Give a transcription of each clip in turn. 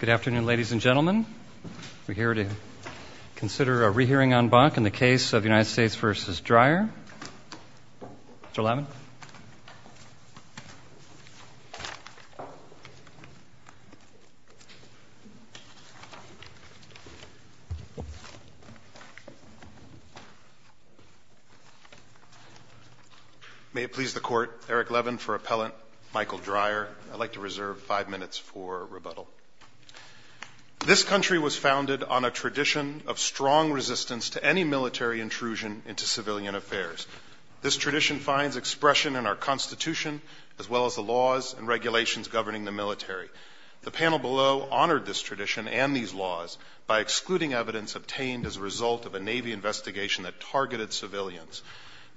Good afternoon, ladies and gentlemen. We're here to consider a rehearing en banc in the case of United States v. Dreyer. Mr. Levin. May it please the Court, Eric Levin for appellant, Michael Dreyer. I'd like to reserve five minutes for rebuttal. This country was founded on a tradition of strong resistance to any military intrusion into civilian affairs. This tradition finds expression in our Constitution as well as the laws and regulations governing the military. The panel below honored this tradition and these laws by excluding evidence obtained as a result of a Navy investigation that targeted civilians.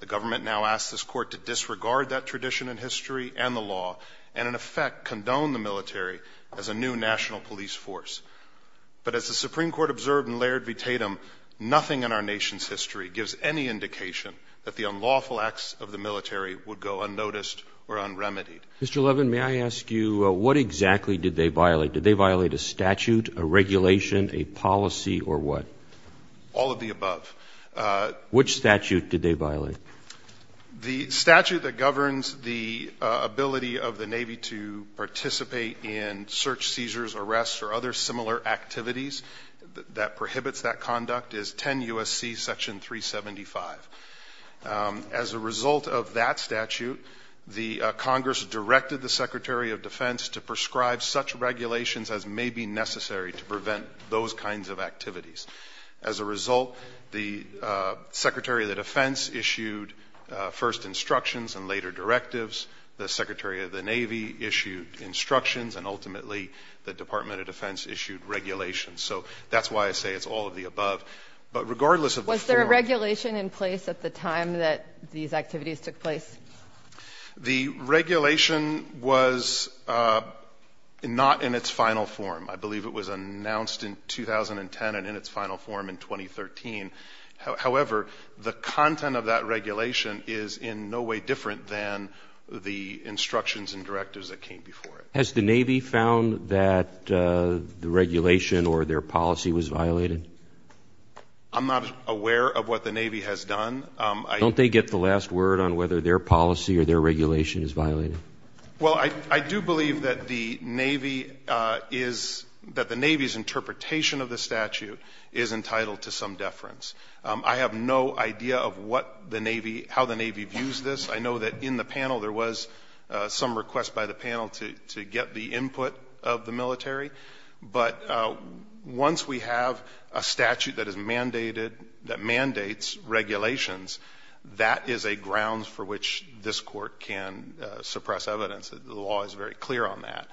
The government now asks this Court to disregard that tradition in history and the law and, in effect, condone the military as a new national police force. But as the Supreme Court observed in Laird v. Tatum, nothing in our nation's history gives any indication that the unlawful acts of the military would go unnoticed or unremitied. Mr. Levin, may I ask you what exactly did they violate? Did they violate a statute, a regulation, a policy, or what? All of the above. Which statute did they violate? The statute that governs the ability of the Navy to participate in search, seizures, arrests, or other similar activities that prohibits that conduct is 10 U.S.C. section 375. As a result of that statute, the Congress directed the Secretary of Defense to prescribe such regulations as may be necessary to prevent those kinds of activities. As a result, the Secretary of Defense issued first instructions and later directives. The Secretary of the Navy issued instructions. And ultimately, the Department of Defense issued regulations. So that's why I say it's all of the above. Was there a regulation in place at the time that these activities took place? The regulation was not in its final form. I believe it was announced in 2010 and in its final form in 2013. However, the content of that regulation is in no way different than the instructions and directives that came before it. Has the Navy found that the regulation or their policy was violated? I'm not aware of what the Navy has done. Don't they get the last word on whether their policy or their regulation is violated? Well, I do believe that the Navy is – that the Navy's interpretation of the statute is entitled to some deference. I have no idea of what the Navy – how the Navy views this. I know that in the panel there was some request by the panel to get the input of the military. But once we have a statute that is mandated – that mandates regulations, that is a ground for which this court can suppress evidence. The law is very clear on that.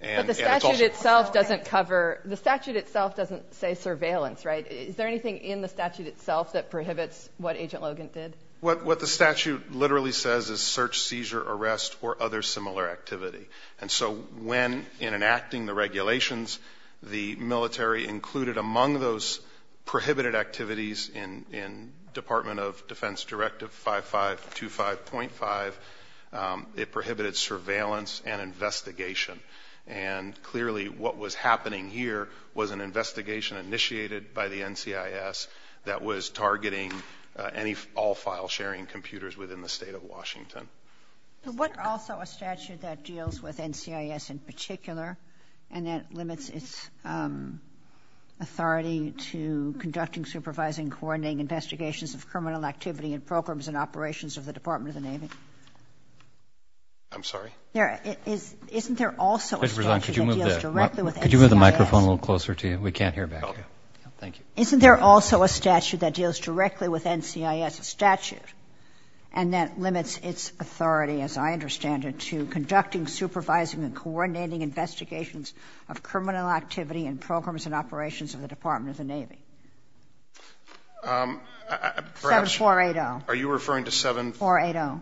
But the statute itself doesn't cover – the statute itself doesn't say surveillance, right? Is there anything in the statute itself that prohibits what Agent Logan did? What the statute literally says is search, seizure, arrest, or other similar activity. And so when, in enacting the regulations, the military included among those prohibited activities in Department of Defense Directive 5525.5, it prohibited surveillance and investigation. And clearly what was happening here was an investigation initiated by the NCIS that was targeting all file-sharing computers within the state of Washington. Is there also a statute that deals with NCIS in particular and that limits its authority to conducting, supervising, coordinating investigations of criminal activity and programs and operations of the Department of the Navy? I'm sorry? Isn't there also a statute that deals directly with NCIS? Could you move the microphone a little closer to you? We can't hear back here. Thank you. Isn't there also a statute that deals directly with NCIS, a statute, and that limits its authority, as I understand it, to conducting, supervising, and coordinating investigations of criminal activity and programs and operations of the Department of the Navy? 7480. Are you referring to 7480?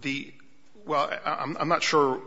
The — well, I'm not sure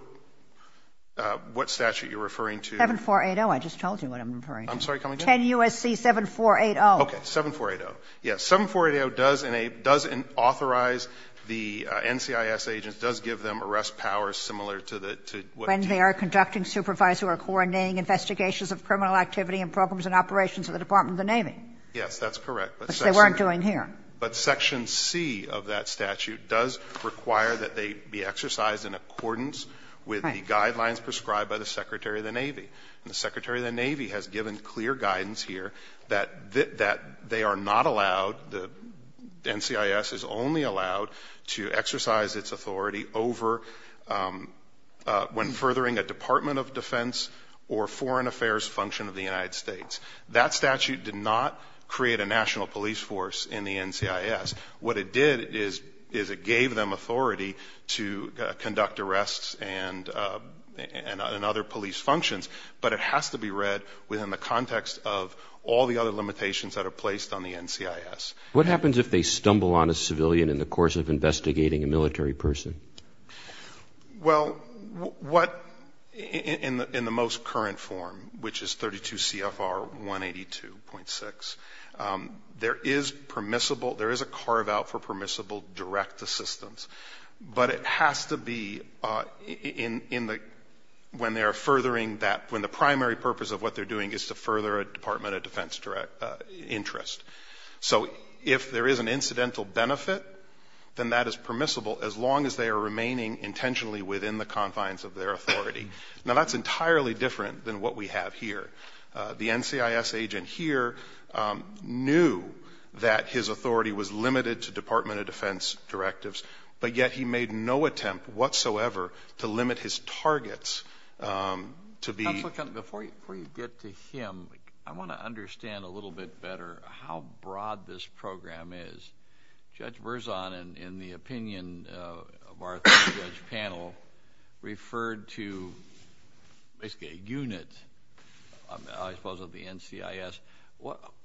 what statute you're referring to. 7480. I just told you what I'm referring to. I'm sorry. Can you tell me again? 10 U.S.C. 7480. Okay. 7480. Yes. 7480 does authorize the NCIS agents, does give them arrest powers similar to the — When they are conducting, supervising, or coordinating investigations of criminal activity and programs and operations of the Department of the Navy. Yes. That's correct. Which they weren't doing here. But Section C of that statute does require that they be exercised in accordance with the guidelines prescribed by the Secretary of the Navy. And the Secretary of the Navy has given clear guidance here that they are not allowed — the NCIS is only allowed to exercise its authority over — when furthering a Department of Defense or foreign affairs function of the United States. That statute did not create a national police force in the NCIS. What it did is it gave them authority to conduct arrests and other police functions. But it has to be read within the context of all the other limitations that are placed on the NCIS. What happens if they stumble on a civilian in the course of investigating a military person? Well, what — in the most current form, which is 32 CFR 182.6, there is permissible — there is a carve-out for permissible direct assistance. But it has to be in the — when they are furthering that — when the primary purpose of what they're doing is to further a Department of Defense interest. So if there is an incidental benefit, then that is permissible as long as they are remaining intentionally within the confines of their authority. Now, that's entirely different than what we have here. The NCIS agent here knew that his authority was limited to Department of Defense directives, but yet he made no attempt whatsoever to limit his targets to be — Counsel, before you get to him, I want to understand a little bit better how broad this program is. Judge Verzon, in the opinion of our panel, referred to basically a unit, I suppose, of the NCIS.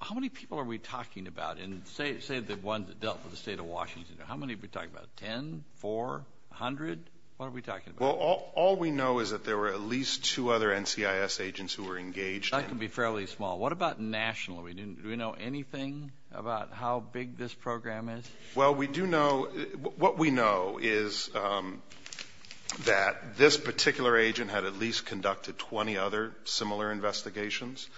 How many people are we talking about? And say the ones that dealt with the state of Washington. How many are we talking about? Ten? Four? A hundred? What are we talking about? Well, all we know is that there were at least two other NCIS agents who were engaged. That can be fairly small. What about nationally? Do we know anything about how big this program is? Well, we do know — what we know is that this particular agent had at least conducted 20 other similar investigations.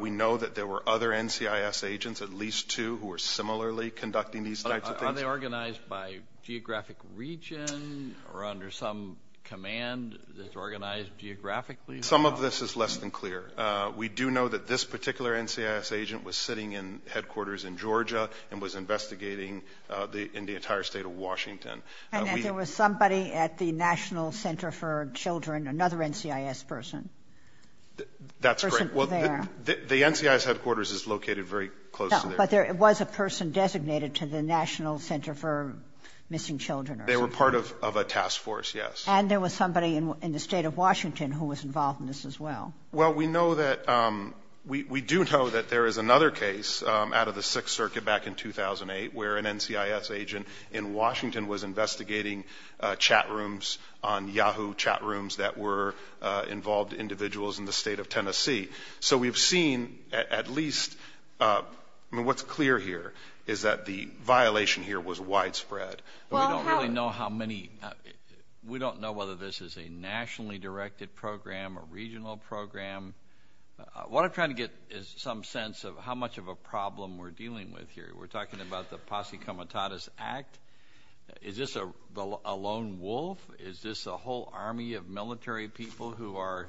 We know that there were other NCIS agents, at least two, who were similarly conducting these types of things. But are they organized by geographic region or under some command that's organized geographically? Some of this is less than clear. We do know that this particular NCIS agent was sitting in headquarters in Georgia and was investigating in the entire state of Washington. And that there was somebody at the National Center for Children, another NCIS person? That's correct. Well, the NCIS headquarters is located very close to there. But there was a person designated to the National Center for Missing Children or something? They were part of a task force, yes. And there was somebody in the state of Washington who was involved in this as well? Well, we know that — we do know that there is another case out of the Sixth Circuit back in 2008 where an NCIS agent in Washington was investigating chat rooms on Yahoo chat rooms that were involved individuals in the state of Tennessee. So we've seen at least — I mean, what's clear here is that the violation here was widespread. We don't really know how many — we don't know whether this is a nationally directed program, a regional program. What I'm trying to get is some sense of how much of a problem we're dealing with here. We're talking about the Posse Comitatus Act. Is this a lone wolf? Is this a whole army of military people who are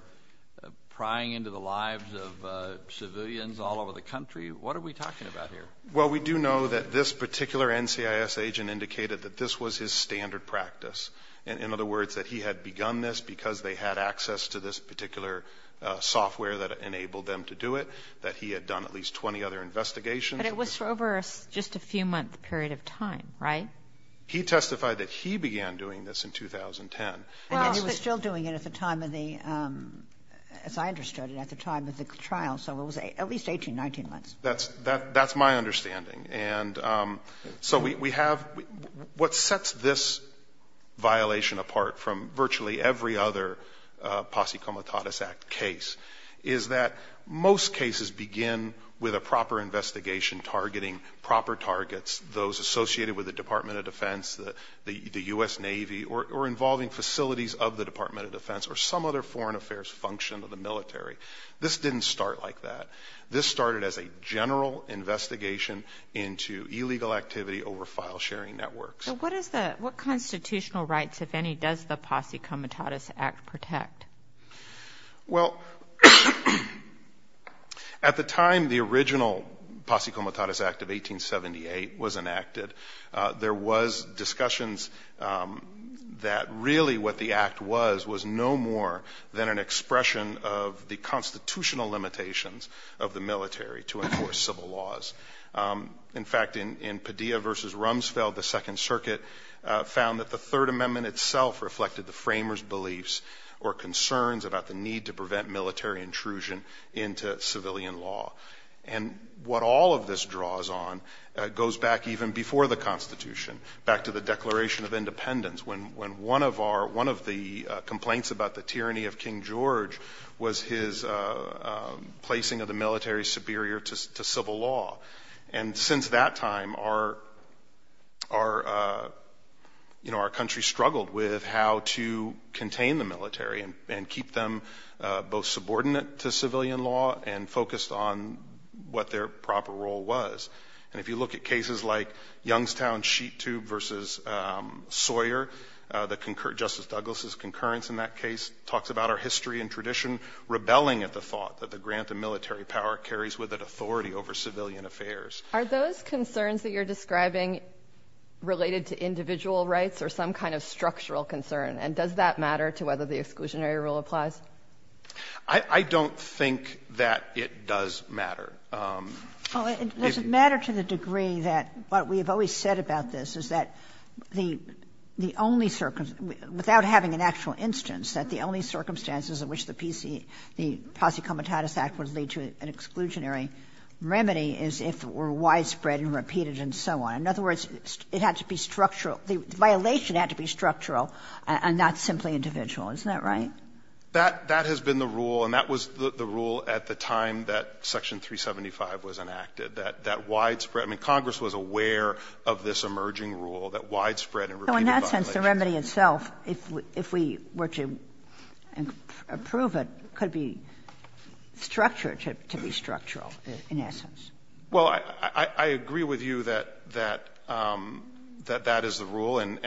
prying into the lives of civilians all over the country? What are we talking about here? Well, we do know that this particular NCIS agent indicated that this was his standard practice. In other words, that he had begun this because they had access to this particular software that enabled them to do it, that he had done at least 20 other investigations. But it was over just a few-month period of time, right? He testified that he began doing this in 2010. And he was still doing it at the time of the — as I understood it, at the time of the trial. So it was at least 18, 19 months. That's my understanding. And so we have — what sets this violation apart from virtually every other Posse Comitatus Act case is that most cases begin with a proper investigation, targeting proper targets, those associated with the Department of Defense, the U.S. Navy, or involving facilities of the Department of Defense or some other foreign affairs function of the military. This didn't start like that. This started as a general investigation into illegal activity over file sharing networks. So what is the — what constitutional rights, if any, does the Posse Comitatus Act protect? Well, at the time the original Posse Comitatus Act of 1878 was enacted, there was discussions that really what the act was was no more than an extension of the military to enforce civil laws. In fact, in Padilla v. Rumsfeld, the Second Circuit found that the Third Amendment itself reflected the framers' beliefs or concerns about the need to prevent military intrusion into civilian law. And what all of this draws on goes back even before the Constitution, back to the Declaration of Independence, when one of our — one of the military superior to civil law. And since that time, our country struggled with how to contain the military and keep them both subordinate to civilian law and focused on what their proper role was. And if you look at cases like Youngstown Sheet Tube v. Sawyer, Justice Douglas' concurrence in that case talks about our history and tradition rebelling at the thought that the grant of military power carries with it authority over civilian affairs. Are those concerns that you're describing related to individual rights or some kind of structural concern? And does that matter to whether the exclusionary rule applies? I don't think that it does matter. Well, it doesn't matter to the degree that what we have always said about this is that the only — without having an actual instance, that the only exclusionary remedy is if it were widespread and repeated and so on. In other words, it had to be structural. The violation had to be structural and not simply individual. Isn't that right? That has been the rule, and that was the rule at the time that Section 375 was enacted, that widespread — I mean, Congress was aware of this emerging rule, that widespread and repeated violations. So in that sense, the remedy itself, if we were to approve it, could be structured to be structural in essence. Well, I agree with you that that is the rule, and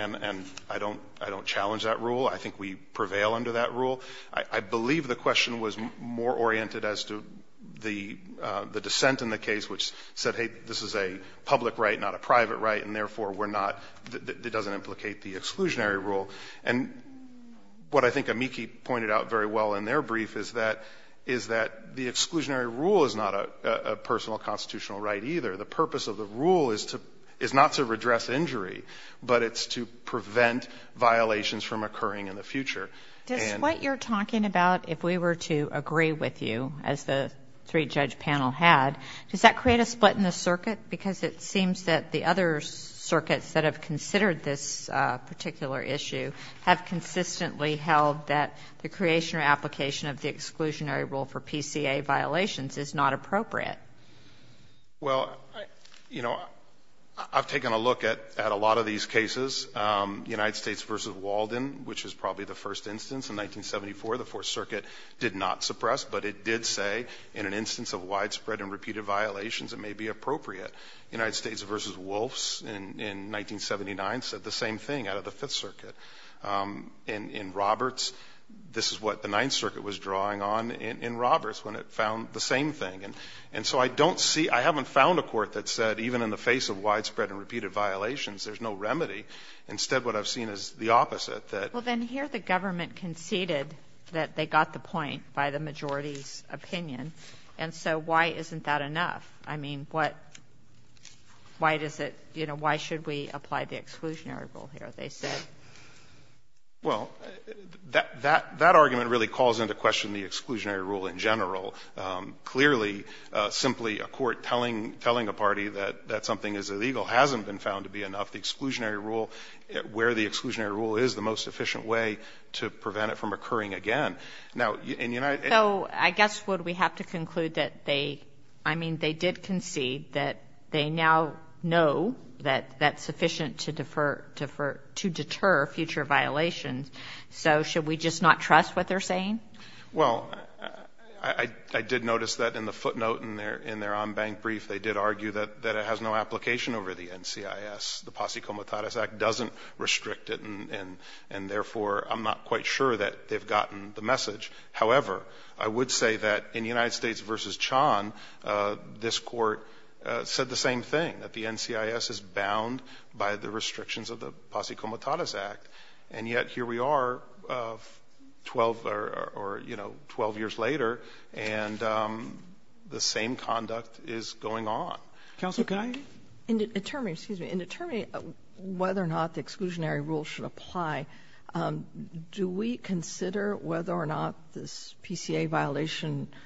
I don't challenge that rule. I think we prevail under that rule. I believe the question was more oriented as to the dissent in the case, which said, hey, this is a public right, not a private right, and therefore we're not — it doesn't implicate the exclusionary rule. And what I think amici pointed out very well in their brief is that the exclusionary rule is not a personal constitutional right either. The purpose of the rule is to — is not to redress injury, but it's to prevent violations from occurring in the future. Does what you're talking about, if we were to agree with you, as the three-judge panel had, does that create a split in the circuit? Because it seems that the other circuits that have considered this particular issue have consistently held that the creation or application of the exclusionary rule for PCA violations is not appropriate. Well, you know, I've taken a look at a lot of these cases. United States v. Walden, which is probably the first instance. In 1974, the Fourth Circuit did not suppress, but it did say in an instance of widespread and repeated violations it may be appropriate. United States v. Wolfs in 1979 said the same thing out of the Fifth Circuit. In Roberts, this is what the Ninth Circuit was drawing on in Roberts when it found the same thing. And so I don't see — I haven't found a court that said even in the face of widespread and repeated violations there's no remedy. Instead, what I've seen is the opposite, that — Well, then here the government conceded that they got the point by the majority's opinion, and so why isn't that enough? I mean, what — why does it — you know, why should we apply the exclusionary rule here? That's what they said. Well, that argument really calls into question the exclusionary rule in general. Clearly, simply a court telling a party that something is illegal hasn't been found to be enough. The exclusionary rule — where the exclusionary rule is the most efficient way to prevent it from occurring again. Now, in United — So I guess what we have to conclude that they — I mean, they did concede that they now know that that's sufficient to defer — to deter future violations. So should we just not trust what they're saying? Well, I did notice that in the footnote in their on-bank brief they did argue that it has no application over the NCIS. The Posse Comitatus Act doesn't restrict it, and therefore I'm not quite sure that they've gotten the message. However, I would say that in the United States versus Chan, this court said the same thing, that the NCIS is bound by the restrictions of the Posse Comitatus Act, and yet here we are 12 — or, you know, 12 years later, and the same conduct is going on. Counsel, can I — In determining — excuse me. In determining whether or not the exclusionary rule should apply, do we consider whether or not this PCA violation —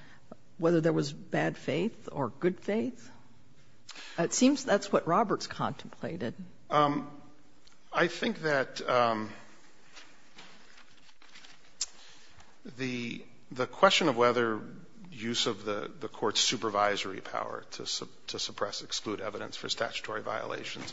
whether there was bad faith or good faith? It seems that's what Roberts contemplated. I think that the question of whether use of the court's supervisory power to suppress, exclude evidence for statutory violations,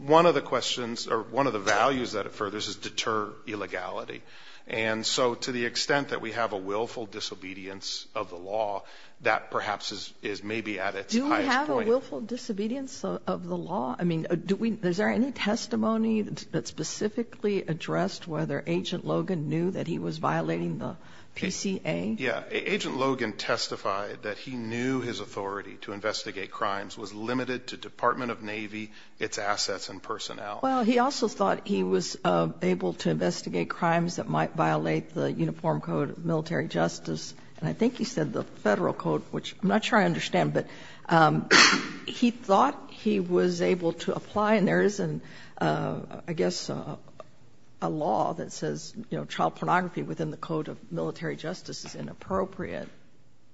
one of the questions — or one of the And so to the extent that we have a willful disobedience of the law, that perhaps is maybe at its highest point. Do we have a willful disobedience of the law? I mean, do we — is there any testimony that specifically addressed whether Agent Logan knew that he was violating the PCA? Yeah. Agent Logan testified that he knew his authority to investigate crimes was limited to Department of Navy, its assets, and personnel. Well, he also thought he was able to investigate crimes that might violate the Uniform Code of Military Justice. And I think he said the Federal Code, which I'm not sure I understand. But he thought he was able to apply. And there isn't, I guess, a law that says, you know, child pornography within the Code of Military Justice is inappropriate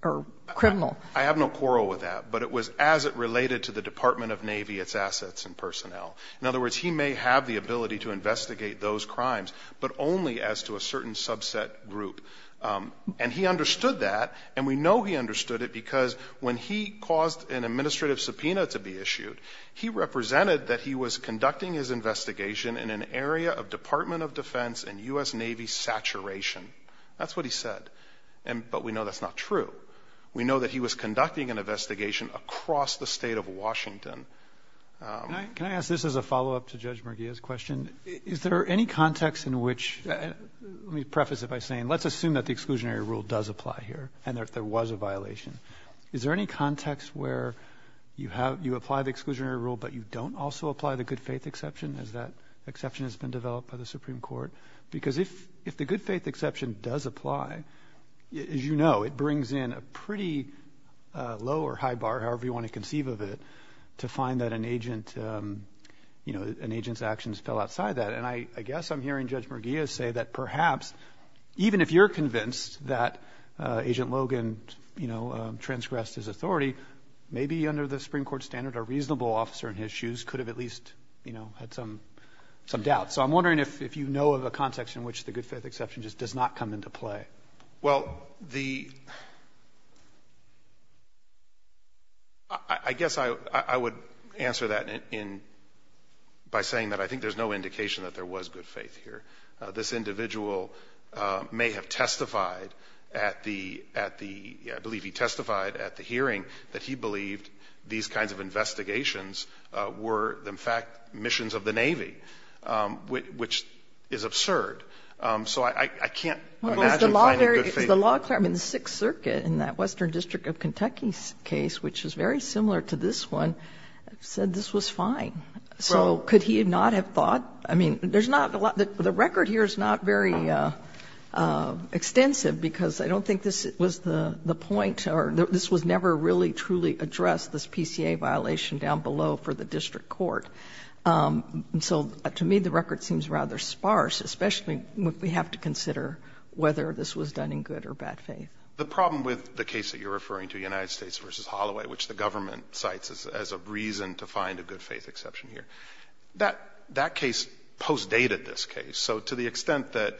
or criminal. I have no quarrel with that. But it was as it related to the Department of Navy, its assets, and personnel. In other words, he may have the ability to investigate those crimes, but only as to a certain subset group. And he understood that. And we know he understood it because when he caused an administrative subpoena to be issued, he represented that he was conducting his investigation in an area of Department of Defense and U.S. Navy saturation. That's what he said. But we know that's not true. We know that he was conducting an investigation across the state of Washington. Can I ask this as a follow-up to Judge Murguia's question? Is there any context in which – let me preface it by saying let's assume that the exclusionary rule does apply here and that there was a violation. Is there any context where you apply the exclusionary rule, but you don't also apply the good faith exception as that exception has been developed by the Supreme Court? Because if the good faith exception does apply, as you know, it brings in a pretty low or to find that an agent's actions fell outside that. And I guess I'm hearing Judge Murguia say that perhaps even if you're convinced that Agent Logan transgressed his authority, maybe under the Supreme Court standard, a reasonable officer in his shoes could have at least had some doubt. So I'm wondering if you know of a context in which the good faith exception just does not come into play. Well, the – I guess I would answer that by saying that I think there's no indication that there was good faith here. This individual may have testified at the – I believe he testified at the hearing that he believed these kinds of investigations were, in fact, missions of the Navy, which is absurd. So I can't imagine finding good faith. Well, is the law clear? I mean, the Sixth Circuit in that Western District of Kentucky case, which is very similar to this one, said this was fine. So could he not have thought – I mean, there's not a lot – the record here is not very extensive because I don't think this was the point or this was never really truly addressed, this PCA violation down below for the district court. And so to me, the record seems rather sparse, especially when we have to consider whether this was done in good or bad faith. The problem with the case that you're referring to, United States v. Holloway, which the government cites as a reason to find a good faith exception here, that case postdated this case. So to the extent that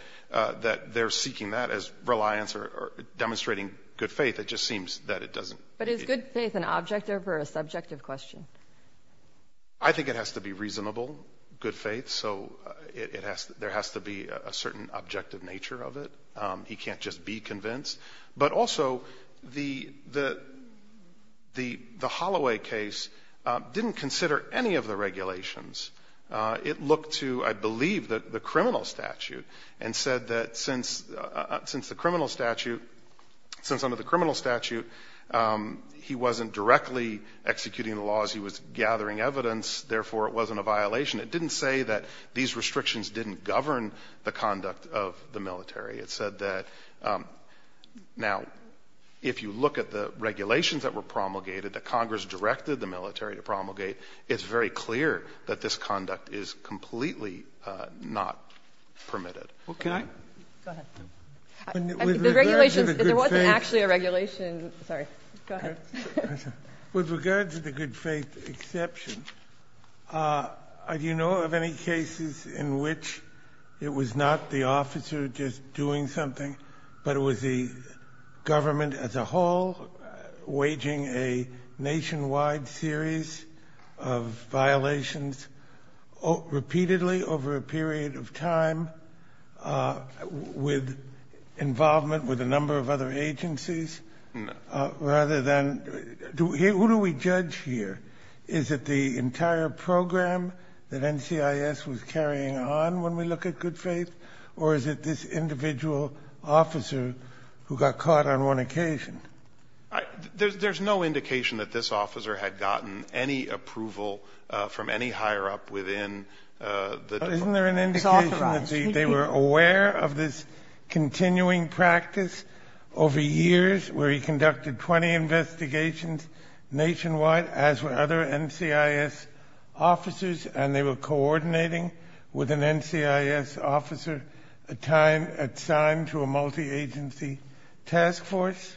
they're seeking that as reliance or demonstrating good faith, it just seems that it doesn't. But is good faith an objective or a subjective question? I think it has to be reasonable, good faith. So there has to be a certain objective nature of it. He can't just be convinced. But also, the Holloway case didn't consider any of the regulations. It looked to, I believe, the criminal statute and said that since the criminal statute he wasn't directly executing the laws. He was gathering evidence. Therefore, it wasn't a violation. It didn't say that these restrictions didn't govern the conduct of the military. It said that now, if you look at the regulations that were promulgated, that Congress directed the military to promulgate, it's very clear that this conduct is completely not permitted. Go ahead. The regulations, there wasn't actually a regulation. Sorry. Go ahead. With regard to the good faith exception, do you know of any cases in which it was not the officer just doing something, but it was the government as a whole waging a nationwide series of violations repeatedly over a period of time with involvement with a number of other agencies? No. Who do we judge here? Is it the entire program that NCIS was carrying on when we look at good faith, or is it this individual officer who got caught on one occasion? There's no indication that this officer had gotten any approval from any higher up within the department. Isn't there an indication that they were aware of this continuing practice over years, where he conducted 20 investigations nationwide, as were other NCIS officers, and they were coordinating with an NCIS officer assigned to a multi-agency task force?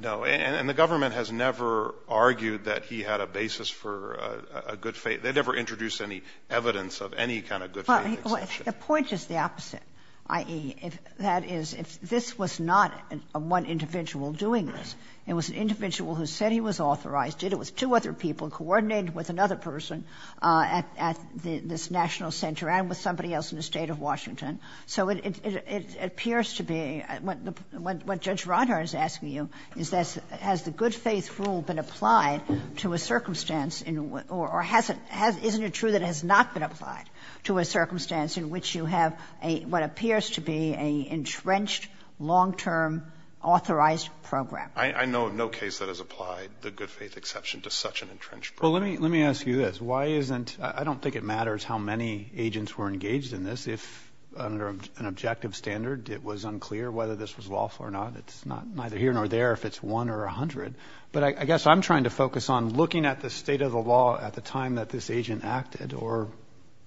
No. And the government has never argued that he had a basis for a good faith. They never introduced any evidence of any kind of good faith exception. Well, the point is the opposite, i.e., that is, if this was not one individual doing this, it was an individual who said he was authorized, did it with two other people, coordinated with another person at this national center and with somebody else in the State of Washington. So it appears to be, what Judge Ronhart is asking you is this, has the good faith rule been applied to a circumstance or has it, isn't it true that it has not been applied to a circumstance in which you have what appears to be an entrenched, long-term, authorized program? I know of no case that has applied the good faith exception to such an entrenched program. Well, let me ask you this. I don't think it matters how many agents were engaged in this. If, under an objective standard, it was unclear whether this was lawful or not, it's neither here nor there if it's one or a hundred. But I guess I'm trying to focus on looking at the state of the law at the time that this agent acted or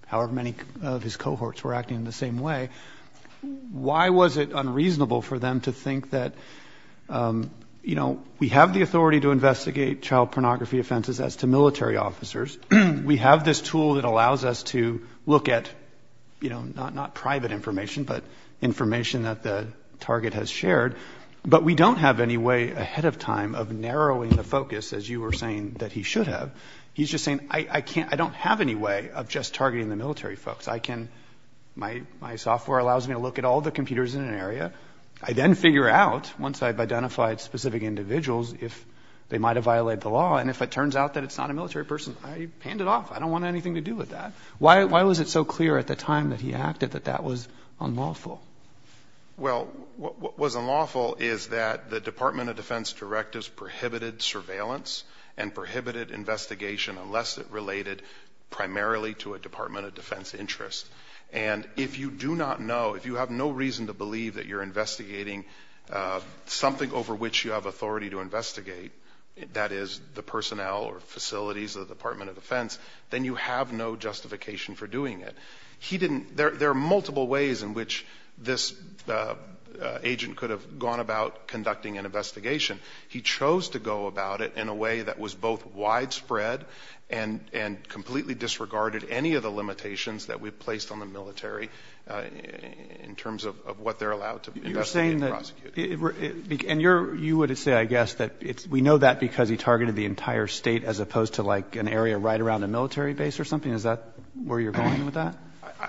however many of his cohorts were acting in the same way. Why was it unreasonable for them to think that, you know, we have the authority to investigate child pornography offenses as to military officers. We have this tool that allows us to look at, you know, not private information, but information that the target has shared. But we don't have any way ahead of time of narrowing the focus, as you were saying that he should have. He's just saying, I can't, I don't have any way of just targeting the military folks. I can, my software allows me to look at all the computers in an area. I then figure out, once I've identified specific individuals, if they might have violated the law. And if it turns out that it's not a military person, I hand it off. I don't want anything to do with that. Why was it so clear at the time that he acted that that was unlawful? Well, what was unlawful is that the Department of Defense directives prohibited surveillance and prohibited investigation unless it related primarily to a Department of Defense interest. And if you do not know, if you have no reason to believe that you're investigating something over which you have authority to investigate, that is, the personnel or facilities of the Department of Defense, then you have no justification for doing it. He didn't, there are multiple ways in which this agent could have gone about conducting an investigation. He chose to go about it in a way that was both widespread and completely disregarded any of the limitations that we've placed on the military in terms of what they're allowed to investigate and prosecute. You're saying that, and you would say, I guess, that we know that because he targeted the entire state as opposed to, like, an area right around a military base or something? Is that where you're going with that?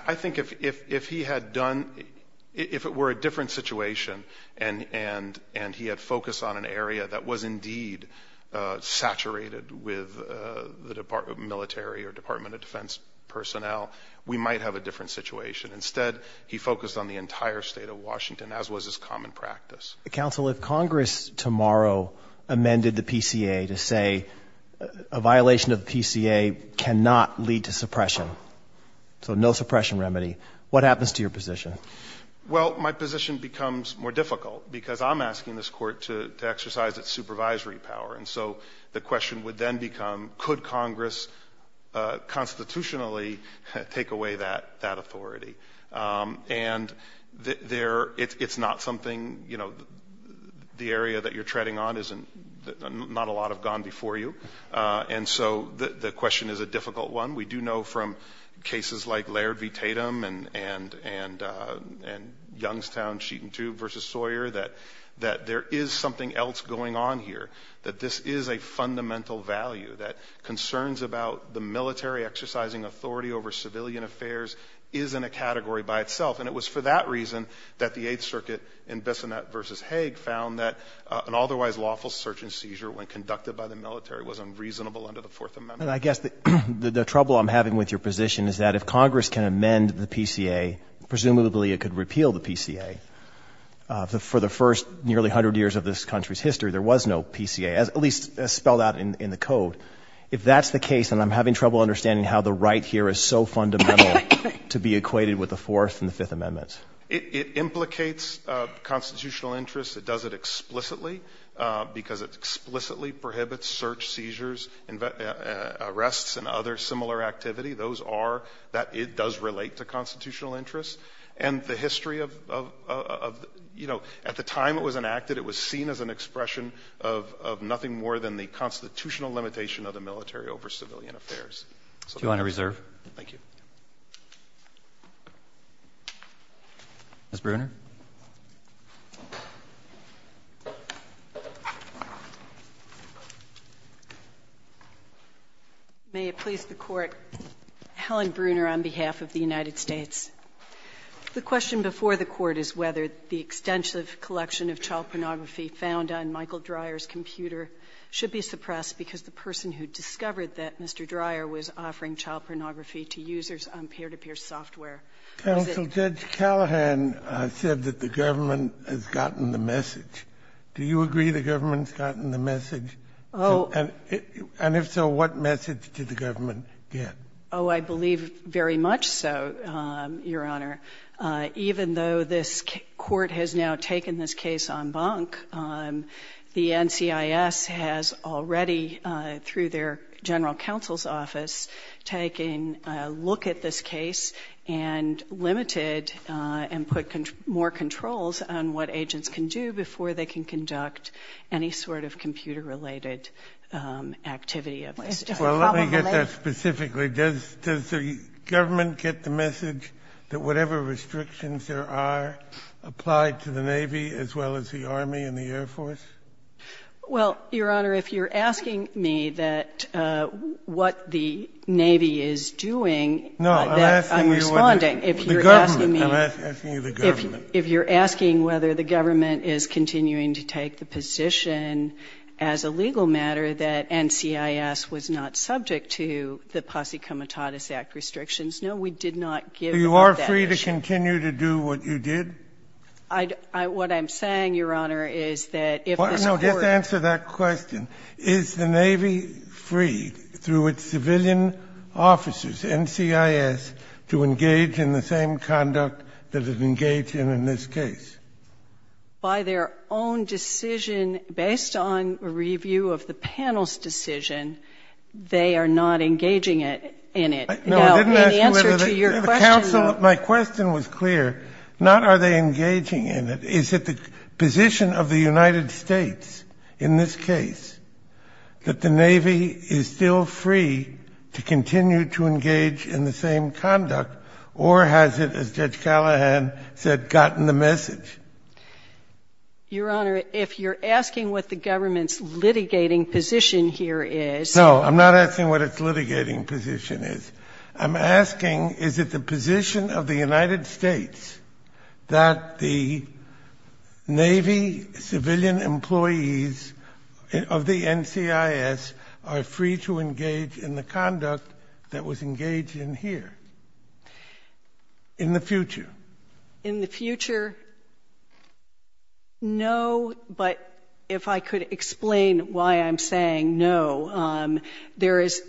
I think if he had done, if it were a different situation and he had focused on an area that was indeed saturated with the military or Department of Defense personnel, we might have a different situation. Instead, he focused on the entire state of Washington, as was his common practice. Counsel, if Congress tomorrow amended the PCA to say a violation of the PCA cannot lead to suppression, so no suppression remedy, what happens to your position? Well, my position becomes more difficult because I'm asking this court to exercise its supervisory power. And so the question would then become, could Congress constitutionally take away that authority? And it's not something, you know, the area that you're treading on isn't, not a lot have gone before you. And so the question is a difficult one. We do know from cases like Laird v. Tatum and Youngstown sheet and tube versus Sawyer that there is something else going on here, that this is a fundamental value, that concerns about the military exercising authority over civilian affairs is in a category by itself. And it was for that reason that the Eighth Circuit in Bissonnette v. Hague found that an otherwise lawful search and seizure when conducted by the military was unreasonable under the Fourth Amendment. And I guess the trouble I'm having with your position is that if Congress can amend the PCA, presumably it could repeal the PCA. For the first nearly 100 years of this country's history, there was no PCA, at least spelled out in the code. If that's the case, then I'm having trouble understanding how the right here is so fundamental to be equated with the Fourth and the Fifth Amendments. It implicates constitutional interests. It does it explicitly because it explicitly prohibits search, seizures, arrests, and other similar activity. Those are that it does relate to constitutional interests. And the history of, you know, at the time it was enacted, it was seen as an expression of nothing more than the constitutional limitation of the military over civilian affairs. Do you want to reserve? Thank you. Ms. Bruner? May it please the Court, Helen Bruner on behalf of the United States. The question before the Court is whether the extensive collection of child pornography found on Michael Dreyer's computer should be suppressed because the person who discovered that, Mr. Dreyer, was offering child pornography to users on peer-to-peer software. Counsel, Judge Callahan said that the government has gotten the message. Do you agree the government has gotten the message? And if so, what message did the government get? Oh, I believe very much so, Your Honor. Even though this Court has now taken this case en banc, the NCIS has already, through their general counsel's office, taken a look at this case and limited and put more controls on what agents can do before they can conduct any sort of computer-related activity of this. Well, let me get that specifically. Does the government get the message that whatever restrictions there are apply to the Navy as well as the Army and the Air Force? Well, Your Honor, if you're asking me that what the Navy is doing, I'm responding. No, I'm asking you what the government is doing. I'm asking you the government. If you're asking whether the government is continuing to take the position as a legal matter that NCIS was not subject to the Posse Comitatus Act restrictions, no, we did not give that message. So you are free to continue to do what you did? What I'm saying, Your Honor, is that if this Court ---- No. Just answer that question. Is the Navy free, through its civilian officers, NCIS, to engage in the same conduct that it engaged in in this case? By their own decision, based on a review of the panel's decision, they are not engaging in it. Now, in answer to your question ---- Is it the position of the United States in this case that the Navy is still free to continue to engage in the same conduct, or has it, as Judge Callahan said, gotten the message? Your Honor, if you're asking what the government's litigating position here is ---- No, I'm not asking what its litigating position is. I'm asking, is it the position of the United States that the Navy civilian employees of the NCIS are free to engage in the conduct that was engaged in here in the future? In the future, no. But if I could explain why I'm saying no. There is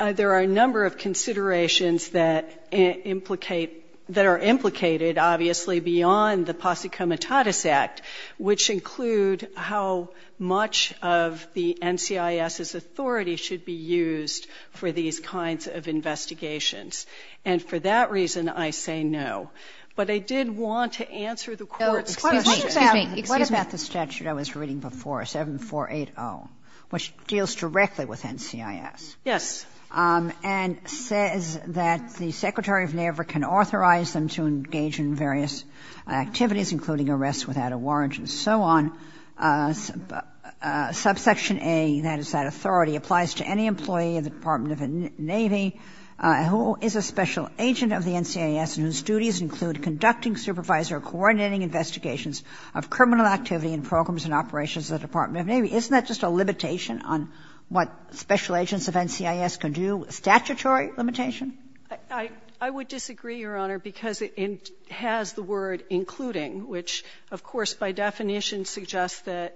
---- there are a number of considerations that implicate ---- that are implicated, obviously, beyond the Posse Comitatus Act, which include how much of the NCIS's authority should be used for these kinds of investigations. And for that reason, I say no. But I did want to answer the Court's question. What about the statute I was reading before, 7480, which deals directly with the NCIS, and says that the Secretary of Navy can authorize them to engage in various activities, including arrests without a warrant and so on. Subsection A, that is, that authority applies to any employee of the Department of the Navy who is a special agent of the NCIS and whose duties include conducting supervisory or coordinating investigations of criminal activity in programs and operations of the Department of Navy. Isn't that just a limitation on what special agents of NCIS can do, a statutory limitation? I would disagree, Your Honor, because it has the word including, which, of course, by definition suggests that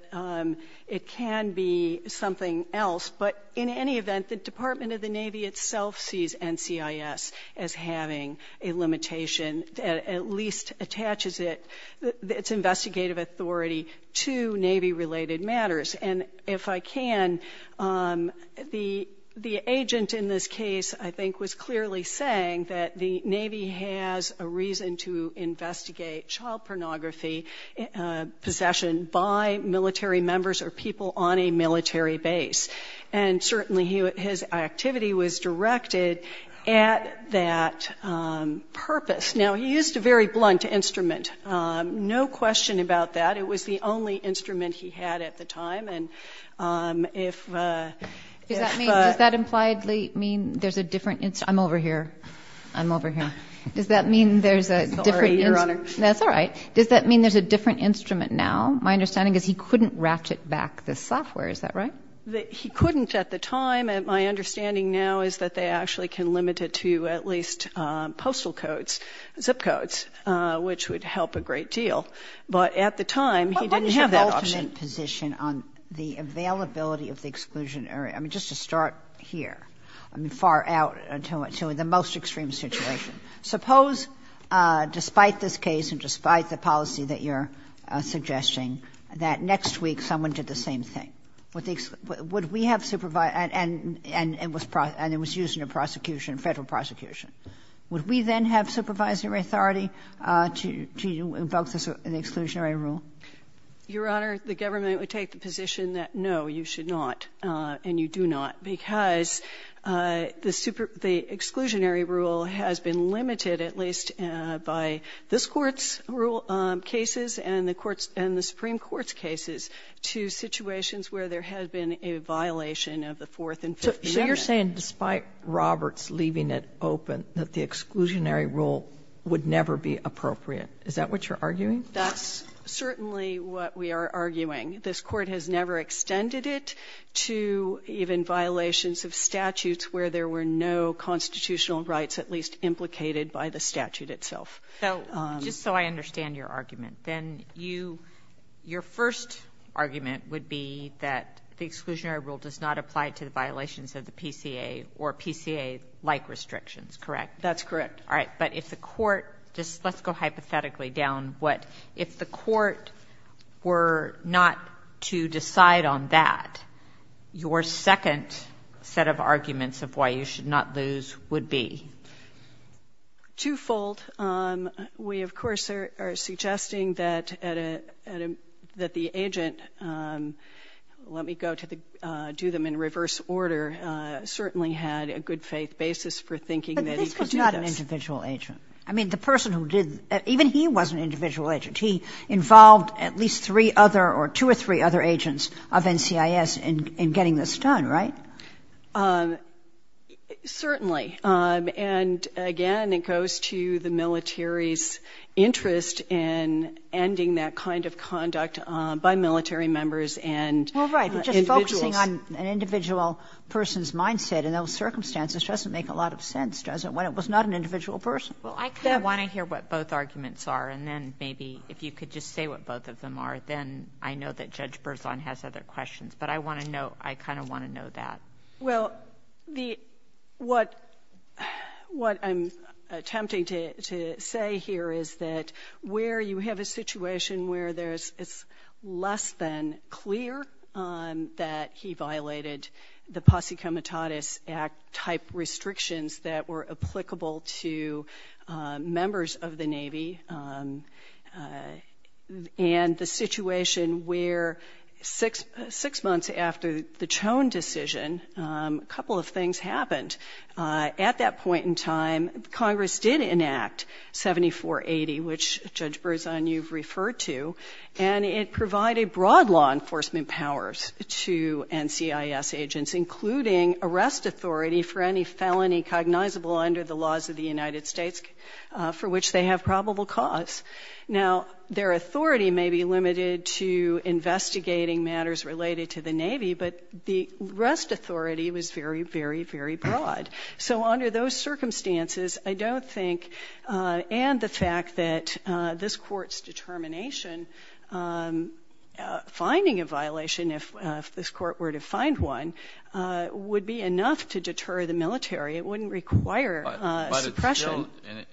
it can be something else. But in any event, the Department of the Navy itself sees NCIS as having a limitation that at least attaches its investigative authority to Navy-related matters. And if I can, the agent in this case, I think, was clearly saying that the Navy has a reason to investigate child pornography possession by military members or people on a military base. And certainly his activity was directed at that purpose. Now, he used a very blunt instrument. No question about that. It was the only instrument he had at the time. Does that impliedly mean there's a different instrument? I'm over here. I'm over here. Does that mean there's a different instrument? Sorry, Your Honor. That's all right. Does that mean there's a different instrument now? My understanding is he couldn't ratchet back the software. Is that right? He couldn't at the time. And my understanding now is that they actually can limit it to at least postal codes, zip codes, which would help a great deal. But at the time, he didn't have that option. What was your ultimate position on the availability of the exclusionary? I mean, just to start here. I mean, far out to the most extreme situation. Suppose, despite this case and despite the policy that you're suggesting, that next week someone did the same thing. Would we have supervised and it was used in a prosecution, a Federal prosecution. Would we then have supervisory authority to invoke the exclusionary rule? Your Honor, the government would take the position that, no, you should not and you do not, because the exclusionary rule has been limited at least by this Court's rule cases and the Supreme Court's cases to situations where there has been a violation of the Fourth and Fifth Amendment. So you're saying, despite Roberts leaving it open, that the exclusionary rule would never be appropriate. Is that what you're arguing? That's certainly what we are arguing. This Court has never extended it to even violations of statutes where there were no constitutional rights at least implicated by the statute itself. So just so I understand your argument, then you, your first argument would be that the exclusionary rule does not apply to the violations of the PCA or PCA-like restrictions, correct? That's correct. All right. But if the Court, just let's go hypothetically down what, if the Court were not to decide on that, your second set of arguments of why you should not lose would be? Twofold. We, of course, are suggesting that at a, that the agent, let me go to the, do them in reverse order, certainly had a good faith basis for thinking that he could do this. But this was not an individual agent. I mean, the person who did, even he was an individual agent. He involved at least three other or two or three other agents of NCIS in getting this done, right? Certainly. And again, it goes to the military's interest in ending that kind of conduct by military members and individuals. Well, right. But just focusing on an individual person's mindset and those circumstances doesn't make a lot of sense, does it, when it was not an individual person? Well, I kind of want to hear what both arguments are, and then maybe if you could just say what both of them are, then I know that Judge Berzon has other questions. But I want to know, I kind of want to know that. Well, the, what, what I'm attempting to say here is that where you have a situation where there's, it's less than clear that he violated the Posse Comitatus Act type restrictions that were applicable to members of the Navy, and the months after the Chone decision, a couple of things happened. At that point in time, Congress did enact 7480, which Judge Berzon, you've referred to, and it provided broad law enforcement powers to NCIS agents, including arrest authority for any felony cognizable under the laws of the United States, for which they have probable cause. Now, their authority may be limited to investigating matters related to the Navy, but the arrest authority was very, very, very broad. So under those circumstances, I don't think, and the fact that this court's determination finding a violation, if this court were to find one, would be enough to deter the military. It wouldn't require suppression.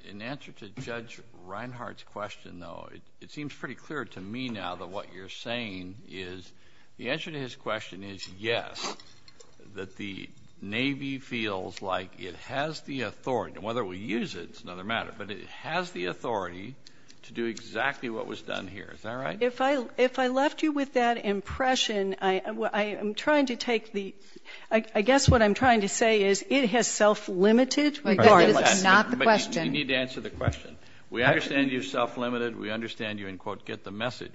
In answer to Judge Reinhart's question, though, it seems pretty clear to me now that what you're saying is, the answer to his question is yes, that the Navy feels like it has the authority, and whether we use it, it's another matter, but it has the authority to do exactly what was done here. Is that right? If I, if I left you with that impression, I am trying to take the, I guess what I'm trying to say is it has self-limited requirements. That is not the question. You need to answer the question. We understand you're self-limited. We understand you, and quote, get the message,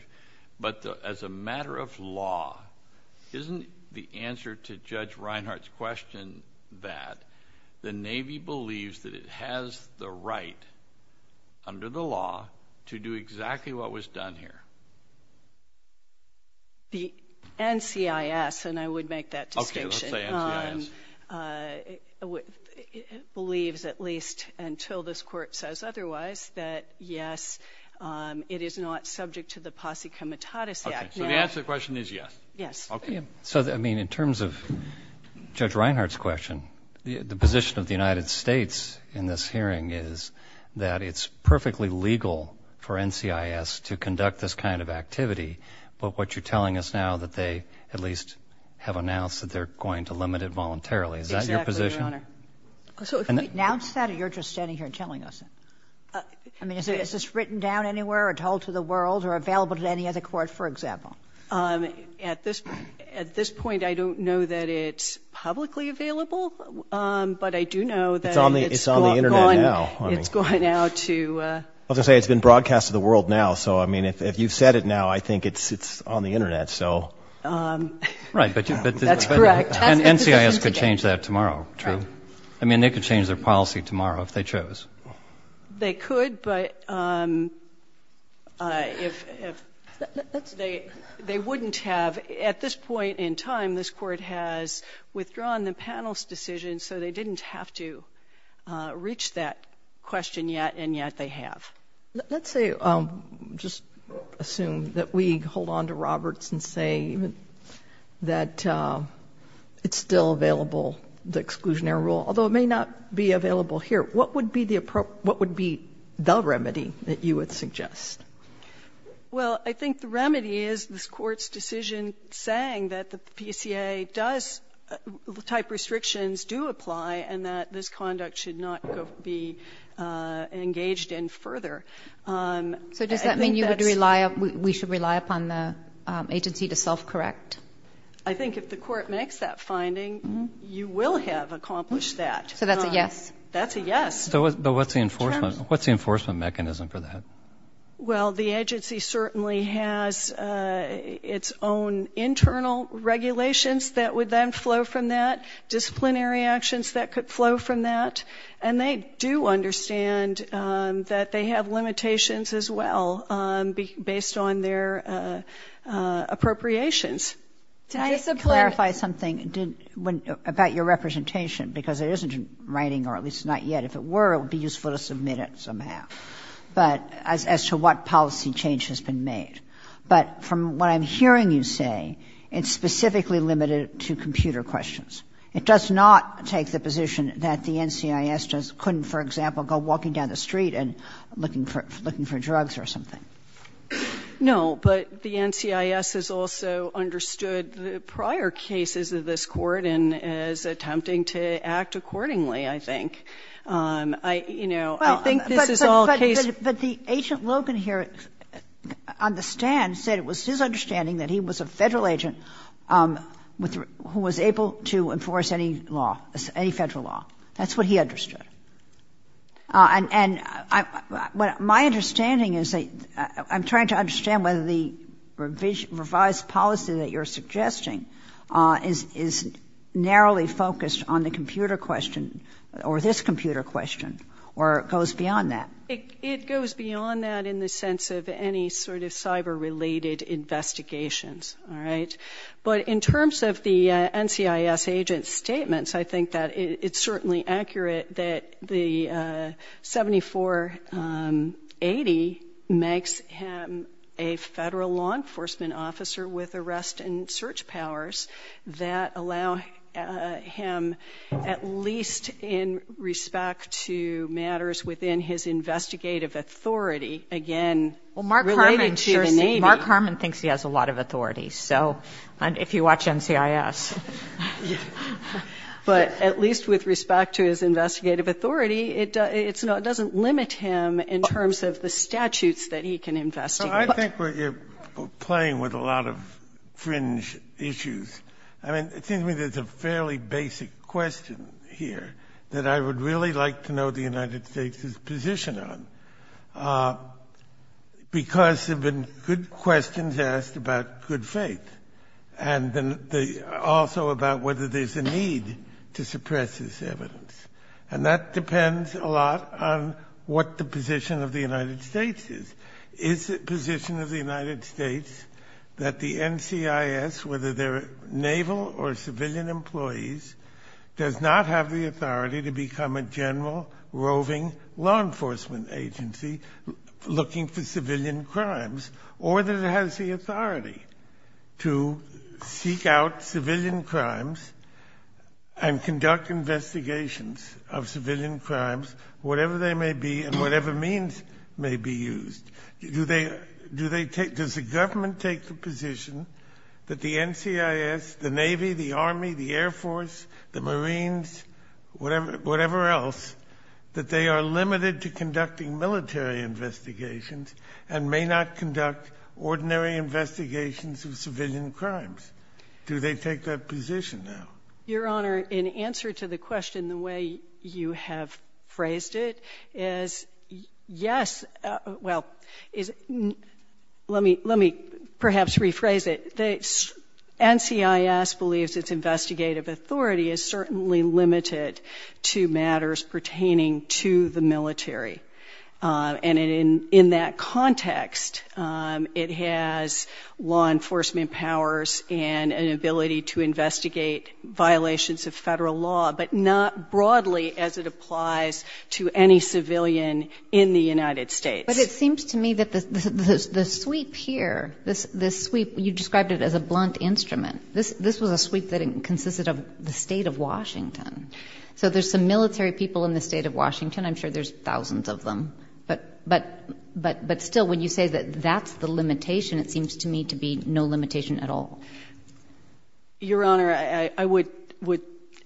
but as a matter of law, isn't the answer to Judge Reinhart's question that the Navy believes that it has the right under the law to do exactly what was done here? The NCIS, and I would make that distinction. Okay, let's say NCIS. It believes, at least until this Court says otherwise, that, yes, it is not subject to the Posse Comitatus Act. Okay, so the answer to the question is yes? Yes. Okay. So, I mean, in terms of Judge Reinhart's question, the position of the United States in this hearing is that it's perfectly legal for NCIS to conduct this kind of activity, but what you're telling us now that they at least have announced that they're going to limit it voluntarily, is that your position? Exactly, Your Honor. So if we announce that, or you're just standing here and telling us? I mean, is this written down anywhere or told to the world or available to any other court, for example? At this point, I don't know that it's publicly available, but I do know that it's gone. It's on the Internet now. It's gone out to the world. Well, it's been broadcast to the world now, so, I mean, if you've said it now, I think it's on the Internet, so. Right. That's correct. And NCIS could change that tomorrow, too. Right. I mean, they could change their policy tomorrow if they chose. They could, but if they wouldn't have, at this point in time, this Court has withdrawn the panel's decision, so they didn't have to reach that question yet, and yet they have. Let's say, just assume that we hold on to Roberts and say that it's still available, the exclusionary rule, although it may not be available here. What would be the remedy that you would suggest? Well, I think the remedy is this Court's decision saying that the PCA does, the type of restrictions do apply and that this conduct should not be engaged in further. So does that mean you would rely, we should rely upon the agency to self-correct? I think if the Court makes that finding, you will have accomplished that. So that's a yes? That's a yes. But what's the enforcement mechanism for that? Well, the agency certainly has its own internal regulations that would then flow from that, disciplinary actions that could flow from that. And they do understand that they have limitations as well, based on their appropriations. Can I just clarify something about your representation? Because it isn't writing, or at least not yet. If it were, it would be useful to submit it somehow. But as to what policy change has been made. But from what I'm hearing you say, it's specifically limited to computer questions. It does not take the position that the NCIS couldn't, for example, go walking down the street and looking for drugs or something. No, but the NCIS has also understood the prior cases of this Court and is attempting to act accordingly, I think. I, you know, I think this is all case. But the agent Logan here understands, said it was his understanding that he was a Federal agent who was able to enforce any law, any Federal law. That's what he understood. And my understanding is that I'm trying to understand whether the revised policy that you're suggesting is narrowly focused on the computer question, or this computer question, or goes beyond that. It goes beyond that in the sense of any sort of cyber-related investigations. All right? But in terms of the NCIS agent's statements, I think that it's certainly accurate that the 7480 makes him a Federal law enforcement officer with arrest and search powers that allow him, at least in respect to matters within his investigative authority, again, related to the Navy. Well, Mark Harmon thinks he has a lot of authority. So, if you watch NCIS. But at least with respect to his investigative authority, it doesn't limit him in terms of the statutes that he can investigate. So I think we're playing with a lot of fringe issues. I mean, it seems to me there's a fairly basic question here that I would really like to know the United States' position on, because there have been good questions asked about good faith, and also about whether there's a need to suppress this evidence. And that depends a lot on what the position of the United States is. Is the position of the United States that the NCIS, whether they're naval or civilian employees, does not have the authority to become a general roving law enforcement agency looking for civilian crimes? Or that it has the authority to seek out civilian crimes and conduct investigations of civilian crimes, whatever they may be and whatever means may be used? Does the government take the position that the NCIS, the Navy, the Army, the Air Force, the Marines, whatever else, that they are limited to conducting military investigations and may not conduct ordinary investigations of civilian crimes? Do they take that position now? Your Honor, in answer to the question, the way you have phrased it is, yes. Well, let me perhaps rephrase it. The NCIS believes its investigative authority is certainly limited to matters pertaining to the military. And in that context, it has law enforcement powers and an ability to investigate violations of federal law, but not broadly as it applies to any civilian in the United States. But it seems to me that the sweep here, this sweep, you described it as a blunt instrument. This was a sweep that consisted of the State of Washington. So there's some military people in the State of Washington. I'm sure there's thousands of them. But still, when you say that that's the limitation, it seems to me to be no limitation at all. Your Honor, I would,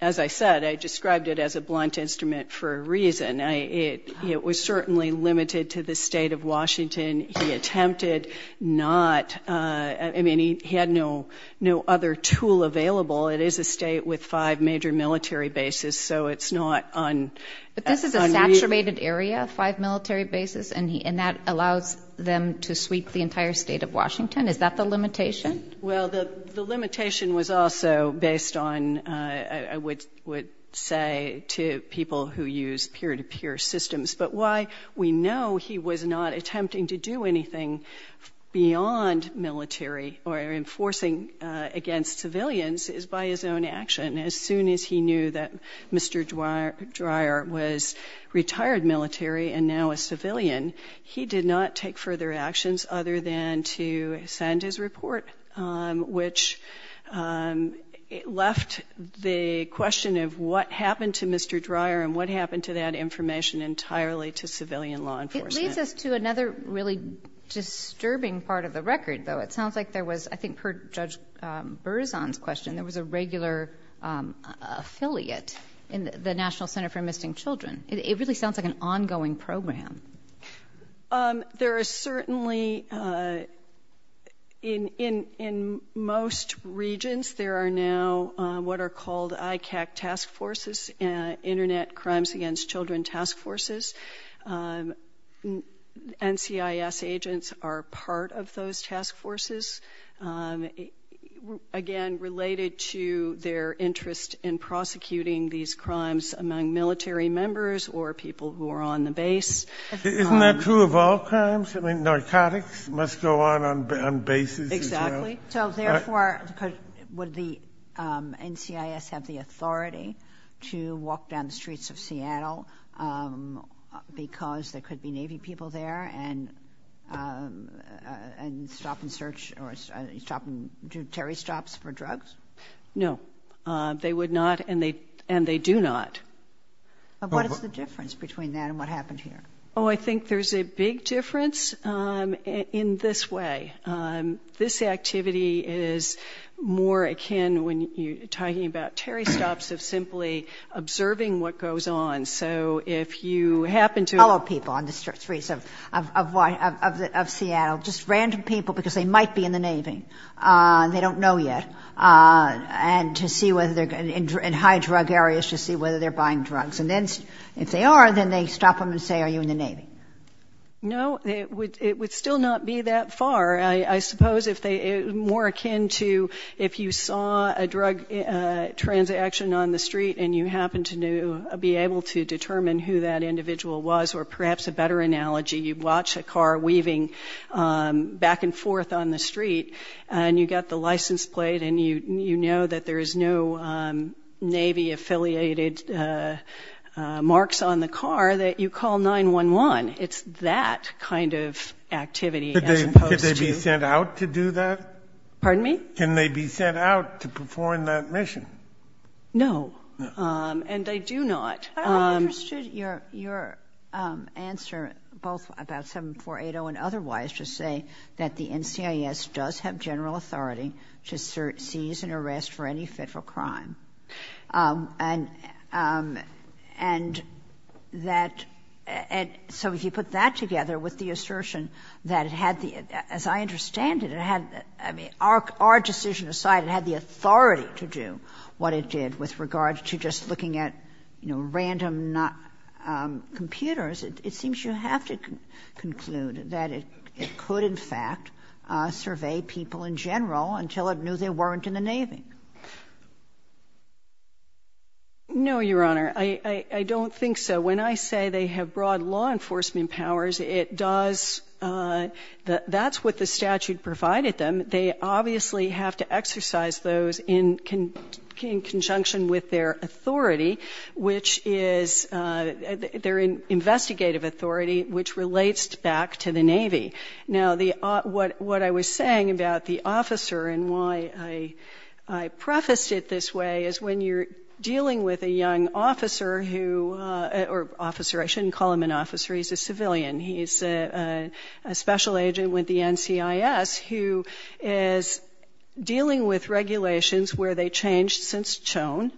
as I said, I described it as a blunt instrument for a reason. It was certainly limited to the State of Washington. He attempted not, I mean, he had no other tool available. It is a state with five major military bases, so it's not on... But this is a saturated area, five military bases, and that allows them to sweep the entire State of Washington. Is that the limitation? Well, the limitation was also based on, I would say, to people who use peer-to-peer systems. But why we know he was not attempting to do anything beyond military or enforcing against civilians is by his own action. As soon as he knew that Mr. Dreyer was retired military and now a civilian, he did not take further actions other than to send his report, which left the question of what happened to Mr. Dreyer and what happened to that information entirely to civilian law enforcement. It leads us to another really disturbing part of the record, though. It sounds like there was, I think per Judge Berzon's question, there was a regular affiliate in the National Center for Missing Children. It really sounds like an ongoing program. There is certainly, in most regions, there are now what are called ICAC task forces, Internet Crimes Against Children task forces. NCIS agents are part of those task forces. Again, related to their interest in prosecuting these crimes among military members or people who are on the base. Isn't that true of all crimes? I mean, narcotics must go on on bases as well. Exactly. So, therefore, would the NCIS have the authority to walk down the streets of Seattle because there could be Navy people there and stop and search or do territory stops for drugs? No. They would not, and they do not. What is the difference between that and what happened here? Oh, I think there's a big difference in this way. This activity is more akin, when you're talking about territory stops, of simply observing what goes on. So, if you happen to... Follow people on the streets of Seattle, just random people because they might be in the Navy. They don't know yet. And to see whether they're in high-drug areas to see whether they're buying drugs. And then, if they are, then they stop them and say, are you in the Navy? No. It would still not be that far. I suppose it's more akin to if you saw a drug transaction on the street and you happened to be able to determine who that individual was, or perhaps a better analogy, you'd watch a car weaving back and forth on the street and you got the license plate and you know that there is no Navy-affiliated marks on the car, that you call 911. It's that kind of activity as opposed to... Could they be sent out to do that? Pardon me? Can they be sent out to perform that mission? No. And they do not. I understood your answer, both about 7480 and otherwise, to say that the NCIS does have general authority to seize and arrest for any federal crime. And that... So if you put that together with the assertion that it had the... As I understand it, it had... Our decision aside, it had the authority to do what it did with regards to just looking at, you know, random computers. It seems you have to conclude that it could in fact survey people in general until it knew they weren't in the Navy. No, Your Honor. I don't think so. When I say they have broad law enforcement powers, it does... That's what the statute provided them. They obviously have to exercise those in conjunction with their authority, which is... Their investigative authority, which relates back to the Navy. Now, what I was saying about the officer and why I prefaced it this way is when you're dealing with a young officer who... Or officer, I shouldn't call him an officer. He's a civilian. He's a special agent with the NCIS who is dealing with regulations where they changed since Chone,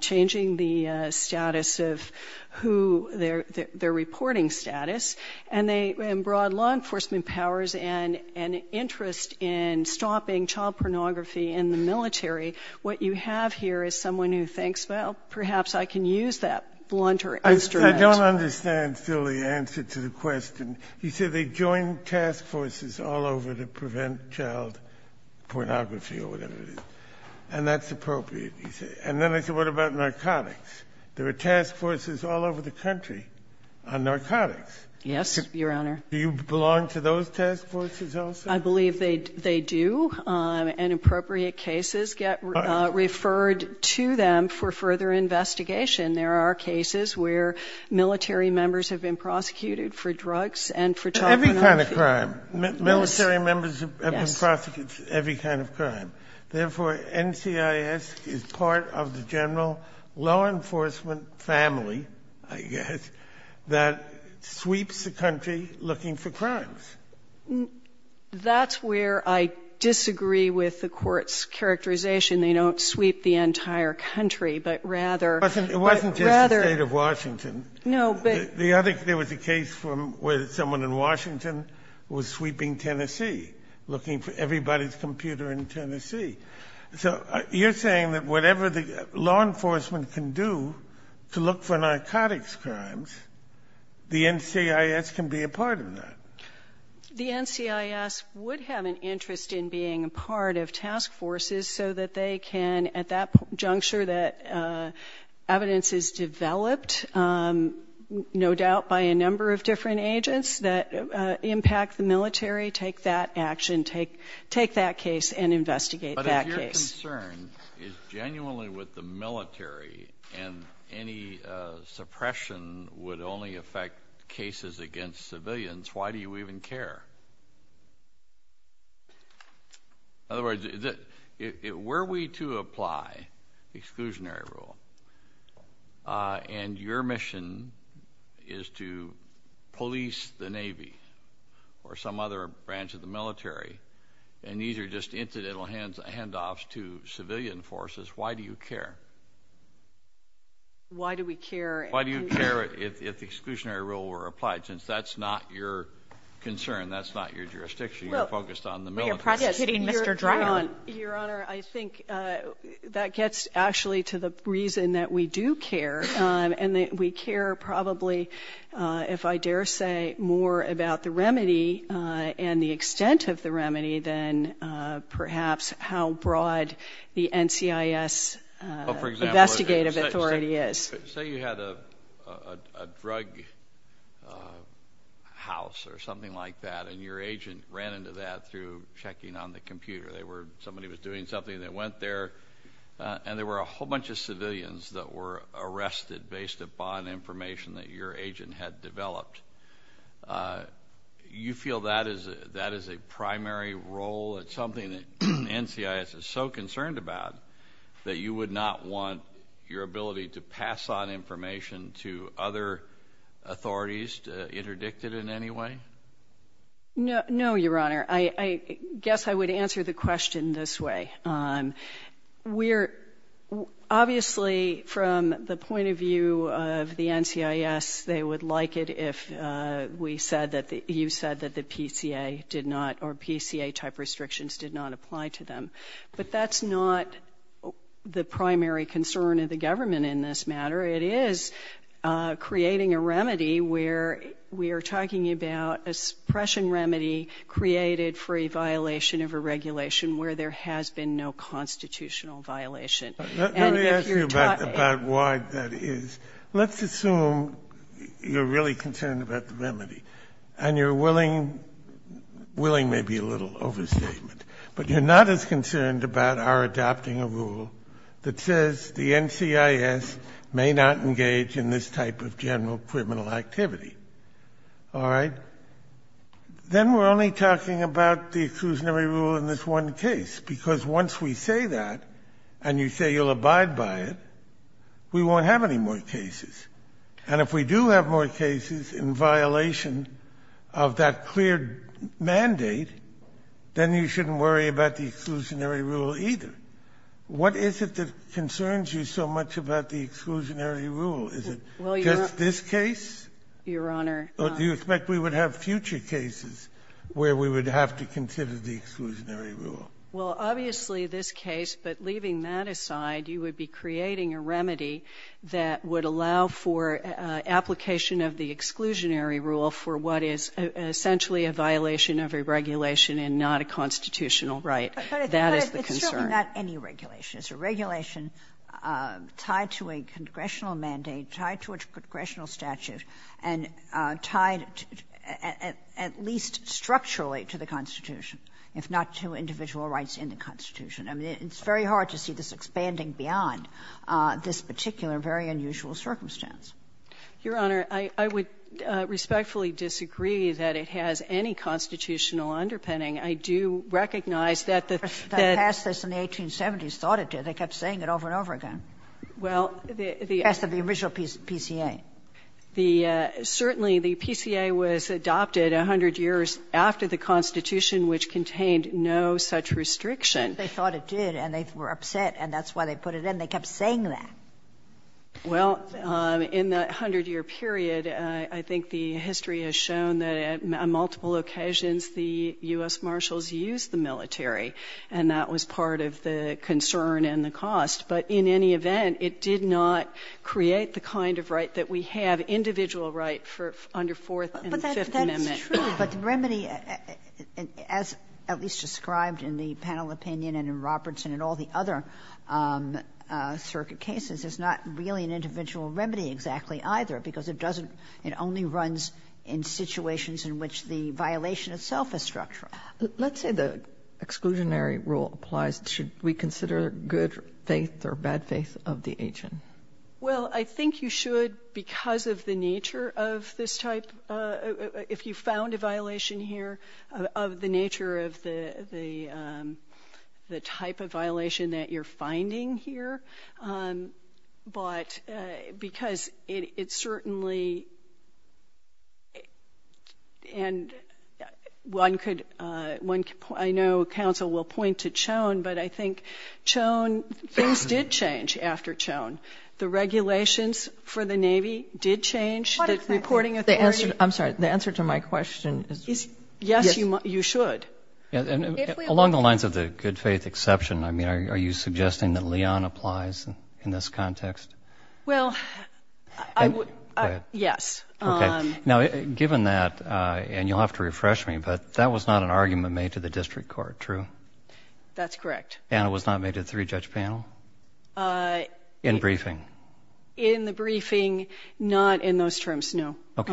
changing the status of who their reporting status. And they have broad law enforcement powers and an interest in stopping child pornography in the military. What you have here is someone who thinks, well, perhaps I can use that blunter instrument. I don't understand still the answer to the question. He said they joined task forces all over to prevent child pornography or whatever it is. And that's appropriate, he said. And then I said, what about narcotics? There are task forces all over the country on narcotics. Yes, Your Honor. Do you belong to those task forces also? I believe they do. And appropriate cases get referred to them for further investigation. There are cases where military members have been prosecuted for drugs and for child pornography. Every kind of crime. Military members have been prosecuted for every kind of crime. Therefore, NCIS is part of the general law enforcement family, I guess, that sweeps the country looking for crimes. That's where I disagree with the court's characterization. They don't sweep the entire country, but rather... It wasn't just the state of Washington. No, but... There was a case where someone in Washington was sweeping Tennessee, looking for everybody's computer in Tennessee. So you're saying that whatever the law enforcement can do to look for narcotics crimes, the NCIS can be a part of that. The NCIS would have an interest in being a part of task forces so that they can, at that juncture that evidence is developed, no doubt by a number of different agents that impact the military, take that action, take that case and investigate that case. My concern is genuinely with the military, and any suppression would only affect cases against civilians. Why do you even care? In other words, were we to apply exclusionary rule, and your mission is to police the Navy or some other branch of the military, and these are just incidental handoffs to civilian forces, why do you care? Why do we care? Why do you care if the exclusionary rule were applied, since that's not your concern, that's not your jurisdiction, you're focused on the military? Well, you're prosecuting Mr. Dryden. Your Honor, I think that gets actually to the reason that we do care, and that we care probably, if I dare say, more about the remedy and the extent of the remedy than perhaps how broad the NCIS investigative authority is. Say you had a drug house or something like that, and your agent ran into that through checking on the computer. Somebody was doing something, they went there, and there were a whole bunch of civilians that were arrested based upon information that your agent had developed. You feel that is a primary role? It's something that NCIS is so concerned about that you would not want your ability to pass on information to other authorities to interdict it in any way? No, Your Honor. I guess I would answer the question this way. Obviously, from the point of view of the NCIS, they would like it if you said that the PCA did not, or PCA-type restrictions did not apply to them. But that's not the primary concern of the government in this matter. It is creating a remedy where we are talking about a suppression remedy created for a violation of a regulation where there has been no constitutional violation. And if you're taught about it. Let me ask you about why that is. Let's assume you're really concerned about the remedy, and you're willing to make a little overstatement, but you're not as concerned about our adopting a rule that says the NCIS may not engage in this type of general criminal activity. All right? Then we're only talking about the exclusionary rule in this one case. Because once we say that, and you say you'll abide by it, we won't have any more cases. And if we do have more cases in violation of that clear mandate, then you shouldn't worry about the exclusionary rule either. What is it that concerns you so much about the exclusionary rule? Is it just this case? Your Honor. Do you expect we would have future cases where we would have to consider the exclusionary rule? Well, obviously, this case, but leaving that aside, you would be creating a remedy that would allow for application of the exclusionary rule for what is essentially a violation of a regulation and not a constitutional right. That is the concern. But it's really not any regulation. It's a regulation tied to a congressional mandate, tied to a congressional statute, and tied at least structurally to the Constitution, if not to individual rights in the Constitution. I mean, it's very hard to see this expanding beyond this particular very unusual circumstance. Your Honor, I would respectfully disagree that it has any constitutional underpinning. I do recognize that the Fed that passed this in the 1870s thought it did. They kept saying it over and over again. Well, the Fed, the original PCA. The – certainly, the PCA was adopted 100 years after the Constitution, which contained no such restriction. They thought it did, and they were upset, and that's why they put it in. They kept saying that. Well, in that 100-year period, I think the history has shown that on multiple occasions the U.S. Marshals used the military, and that was part of the concern and the cost. But in any event, it did not create the kind of right that we have, individual right for under Fourth and Fifth Amendment. Kagan. But that's true, but the remedy, as at least described in the panel opinion and in Robertson and all the other circuit cases, is not really an individual remedy exactly either, because it doesn't – it only runs in situations in which the violation itself is structural. Let's say the exclusionary rule applies. Should we consider good faith or bad faith of the agent? Well, I think you should because of the nature of this type. If you found a violation here, of the nature of the type of violation that you're looking at, I know counsel will point to Choen, but I think Choen – things did change after Choen. The regulations for the Navy did change. The reporting authority – I'm sorry. The answer to my question is yes, you should. Along the lines of the good faith exception, I mean, are you suggesting that Leon applies in this context? Well, yes. Okay. Now, given that, and you'll have to refresh me, but that was not an argument made to the district court, true? That's correct. And it was not made to the three-judge panel? In briefing? In the briefing, not in those terms, no. Okay.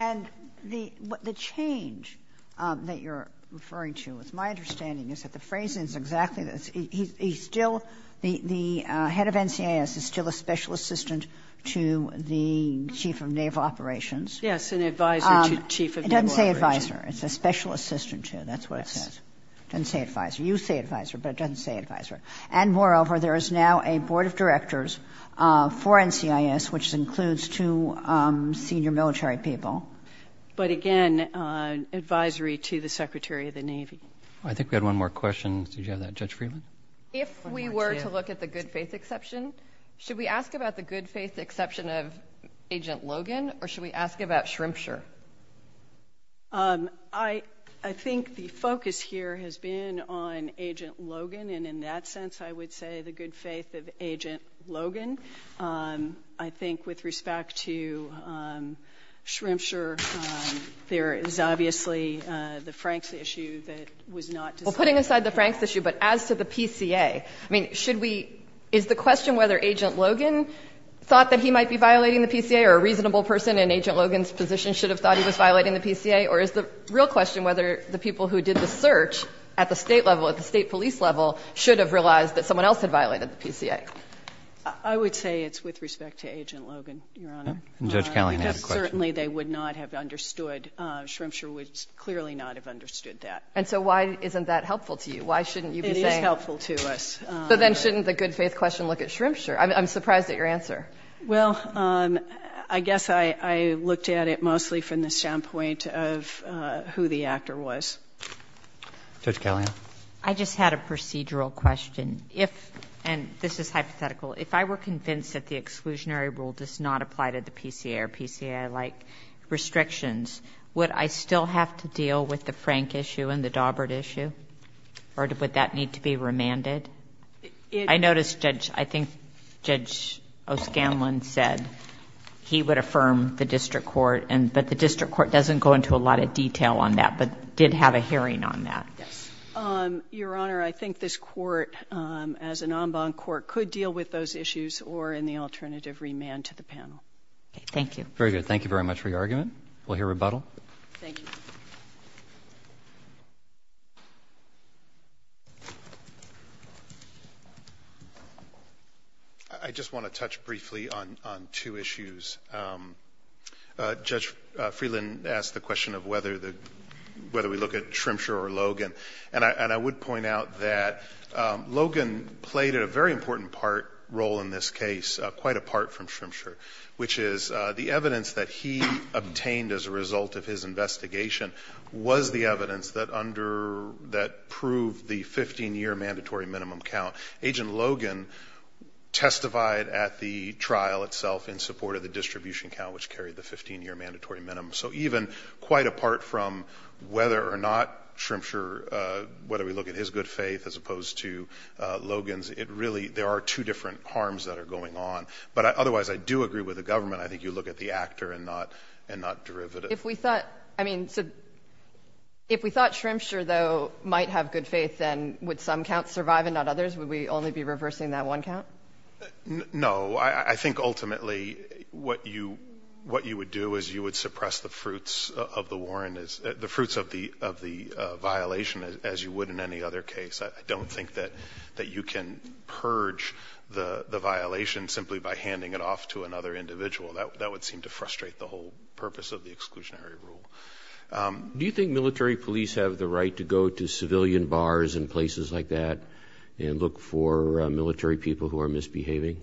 And the change that you're referring to, it's my understanding, is that the phrase is exactly – he's still – the head of NCIS is still a special assistant to the chief of naval operations. Yes, an advisor to chief of naval operations. It doesn't say advisor. It's a special assistant to. That's what it says. It doesn't say advisor. You say advisor, but it doesn't say advisor. And moreover, there is now a board of directors for NCIS, which includes two senior military people. But again, advisory to the Secretary of the Navy. I think we had one more question. Did you have that, Judge Friedman? If we were to look at the good faith exception, should we ask about the good faith of Agent Logan, or should we ask about Shremsher? I think the focus here has been on Agent Logan, and in that sense, I would say the good faith of Agent Logan. I think with respect to Shremsher, there is obviously the Franks issue that was not discussed. Well, putting aside the Franks issue, but as to the PCA, I mean, should we – is the question whether Agent Logan thought that he might be violating the PCA, or a reasonable person in Agent Logan's position should have thought he was violating the PCA? Or is the real question whether the people who did the search at the State level, at the State police level, should have realized that someone else had violated the PCA? I would say it's with respect to Agent Logan, Your Honor. And Judge Callahan had a question. Because certainly, they would not have understood – Shremsher would clearly not have understood that. And so why isn't that helpful to you? Why shouldn't you be saying – It is helpful to us. But then shouldn't the good faith question look at Shremsher? I'm surprised at your answer. Well, I guess I looked at it mostly from the standpoint of who the actor was. Judge Callahan. I just had a procedural question. If – and this is hypothetical – if I were convinced that the exclusionary rule does not apply to the PCA or PCA-like restrictions, would I still have to deal with the Frank issue and the Dawbert issue? Or would that need to be remanded? I noticed Judge – I think Judge O'Scanlan said he would affirm the district court, but the district court doesn't go into a lot of detail on that, but did have a hearing on that. Yes. Your Honor, I think this court, as an en banc court, could deal with those issues or in the alternative remand to the panel. Okay. Thank you. Very good. Thank you very much for your argument. We'll hear rebuttal. Thank you. I just want to touch briefly on two issues. Judge Freeland asked the question of whether the – whether we look at Shremsher or Logan. And I would point out that Logan played a very important part – role in this case quite apart from Shremsher, which is the evidence that he obtained as a result of his investigation was the evidence that under – that proved the 15-year mandatory minimum count. Agent Logan testified at the trial itself in support of the distribution count, which carried the 15-year mandatory minimum. So even quite apart from whether or not Shremsher – whether we look at his good faith as opposed to Logan's, it really – there are two different harms that are going on. But otherwise, I do agree with the government. I think you look at the actor and not derivative. If we thought – I mean, so if we thought Shremsher, though, might have good faith, then would some counts survive and not others? Would we only be reversing that one count? No. I think ultimately what you – what you would do is you would suppress the fruits of the Warren – the fruits of the violation as you would in any other case. I don't think that you can purge the violation simply by handing it off to another individual. That would seem to frustrate the whole purpose of the exclusionary rule. Do you think military police have the right to go to civilian bars and places like that and look for military people who are misbehaving?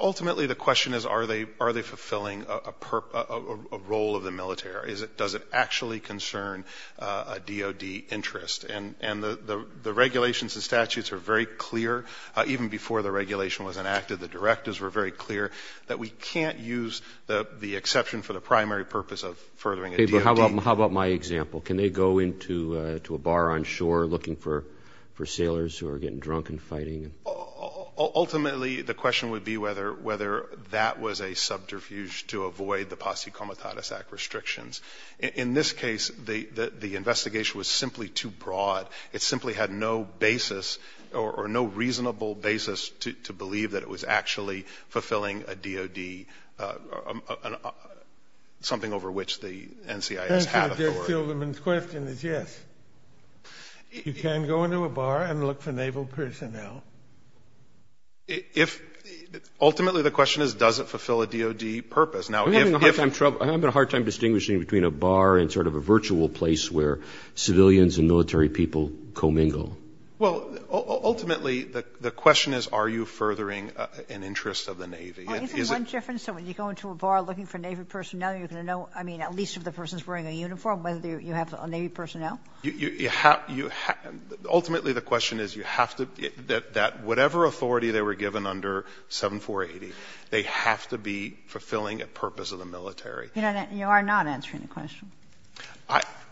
Ultimately, the question is are they fulfilling a role of the military? Does it actually concern a DOD interest? And the regulations and statutes are very clear. Even before the regulation was enacted, the directives were very clear that we can't use the exception for the primary purpose of furthering a DOD. How about my example? Can they go into a bar on shore looking for sailors who are getting drunk and fighting? Ultimately, the question would be whether that was a subterfuge to avoid the Posse Comitatus Act restrictions. In this case, the investigation was simply too broad. It simply had no basis or no reasonable basis to believe that it was actually fulfilling a DOD, something over which the NCIS had authority. The question is yes. You can go into a bar and look for naval personnel. Ultimately, the question is does it fulfill a DOD purpose? I'm having a hard time distinguishing between a bar and sort of a virtual place where civilians and military people co-mingle. Well, ultimately, the question is are you furthering an interest of the Navy? Oh, is there one difference? So when you go into a bar looking for Navy personnel, you're going to know, I mean, at least if the person's wearing a uniform, whether you have Navy personnel? Ultimately, the question is you have to be – that whatever authority they were given under 7480, they have to be fulfilling a purpose of the military. You are not answering the question.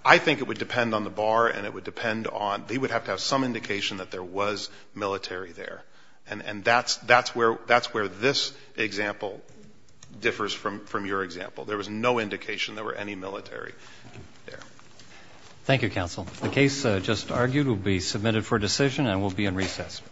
I think it would depend on the bar and it would depend on – they would have to have some indication that there was military there. And that's where this example differs from your example. There was no indication there were any military there. Thank you, counsel. The case just argued will be submitted for decision and will be in recess.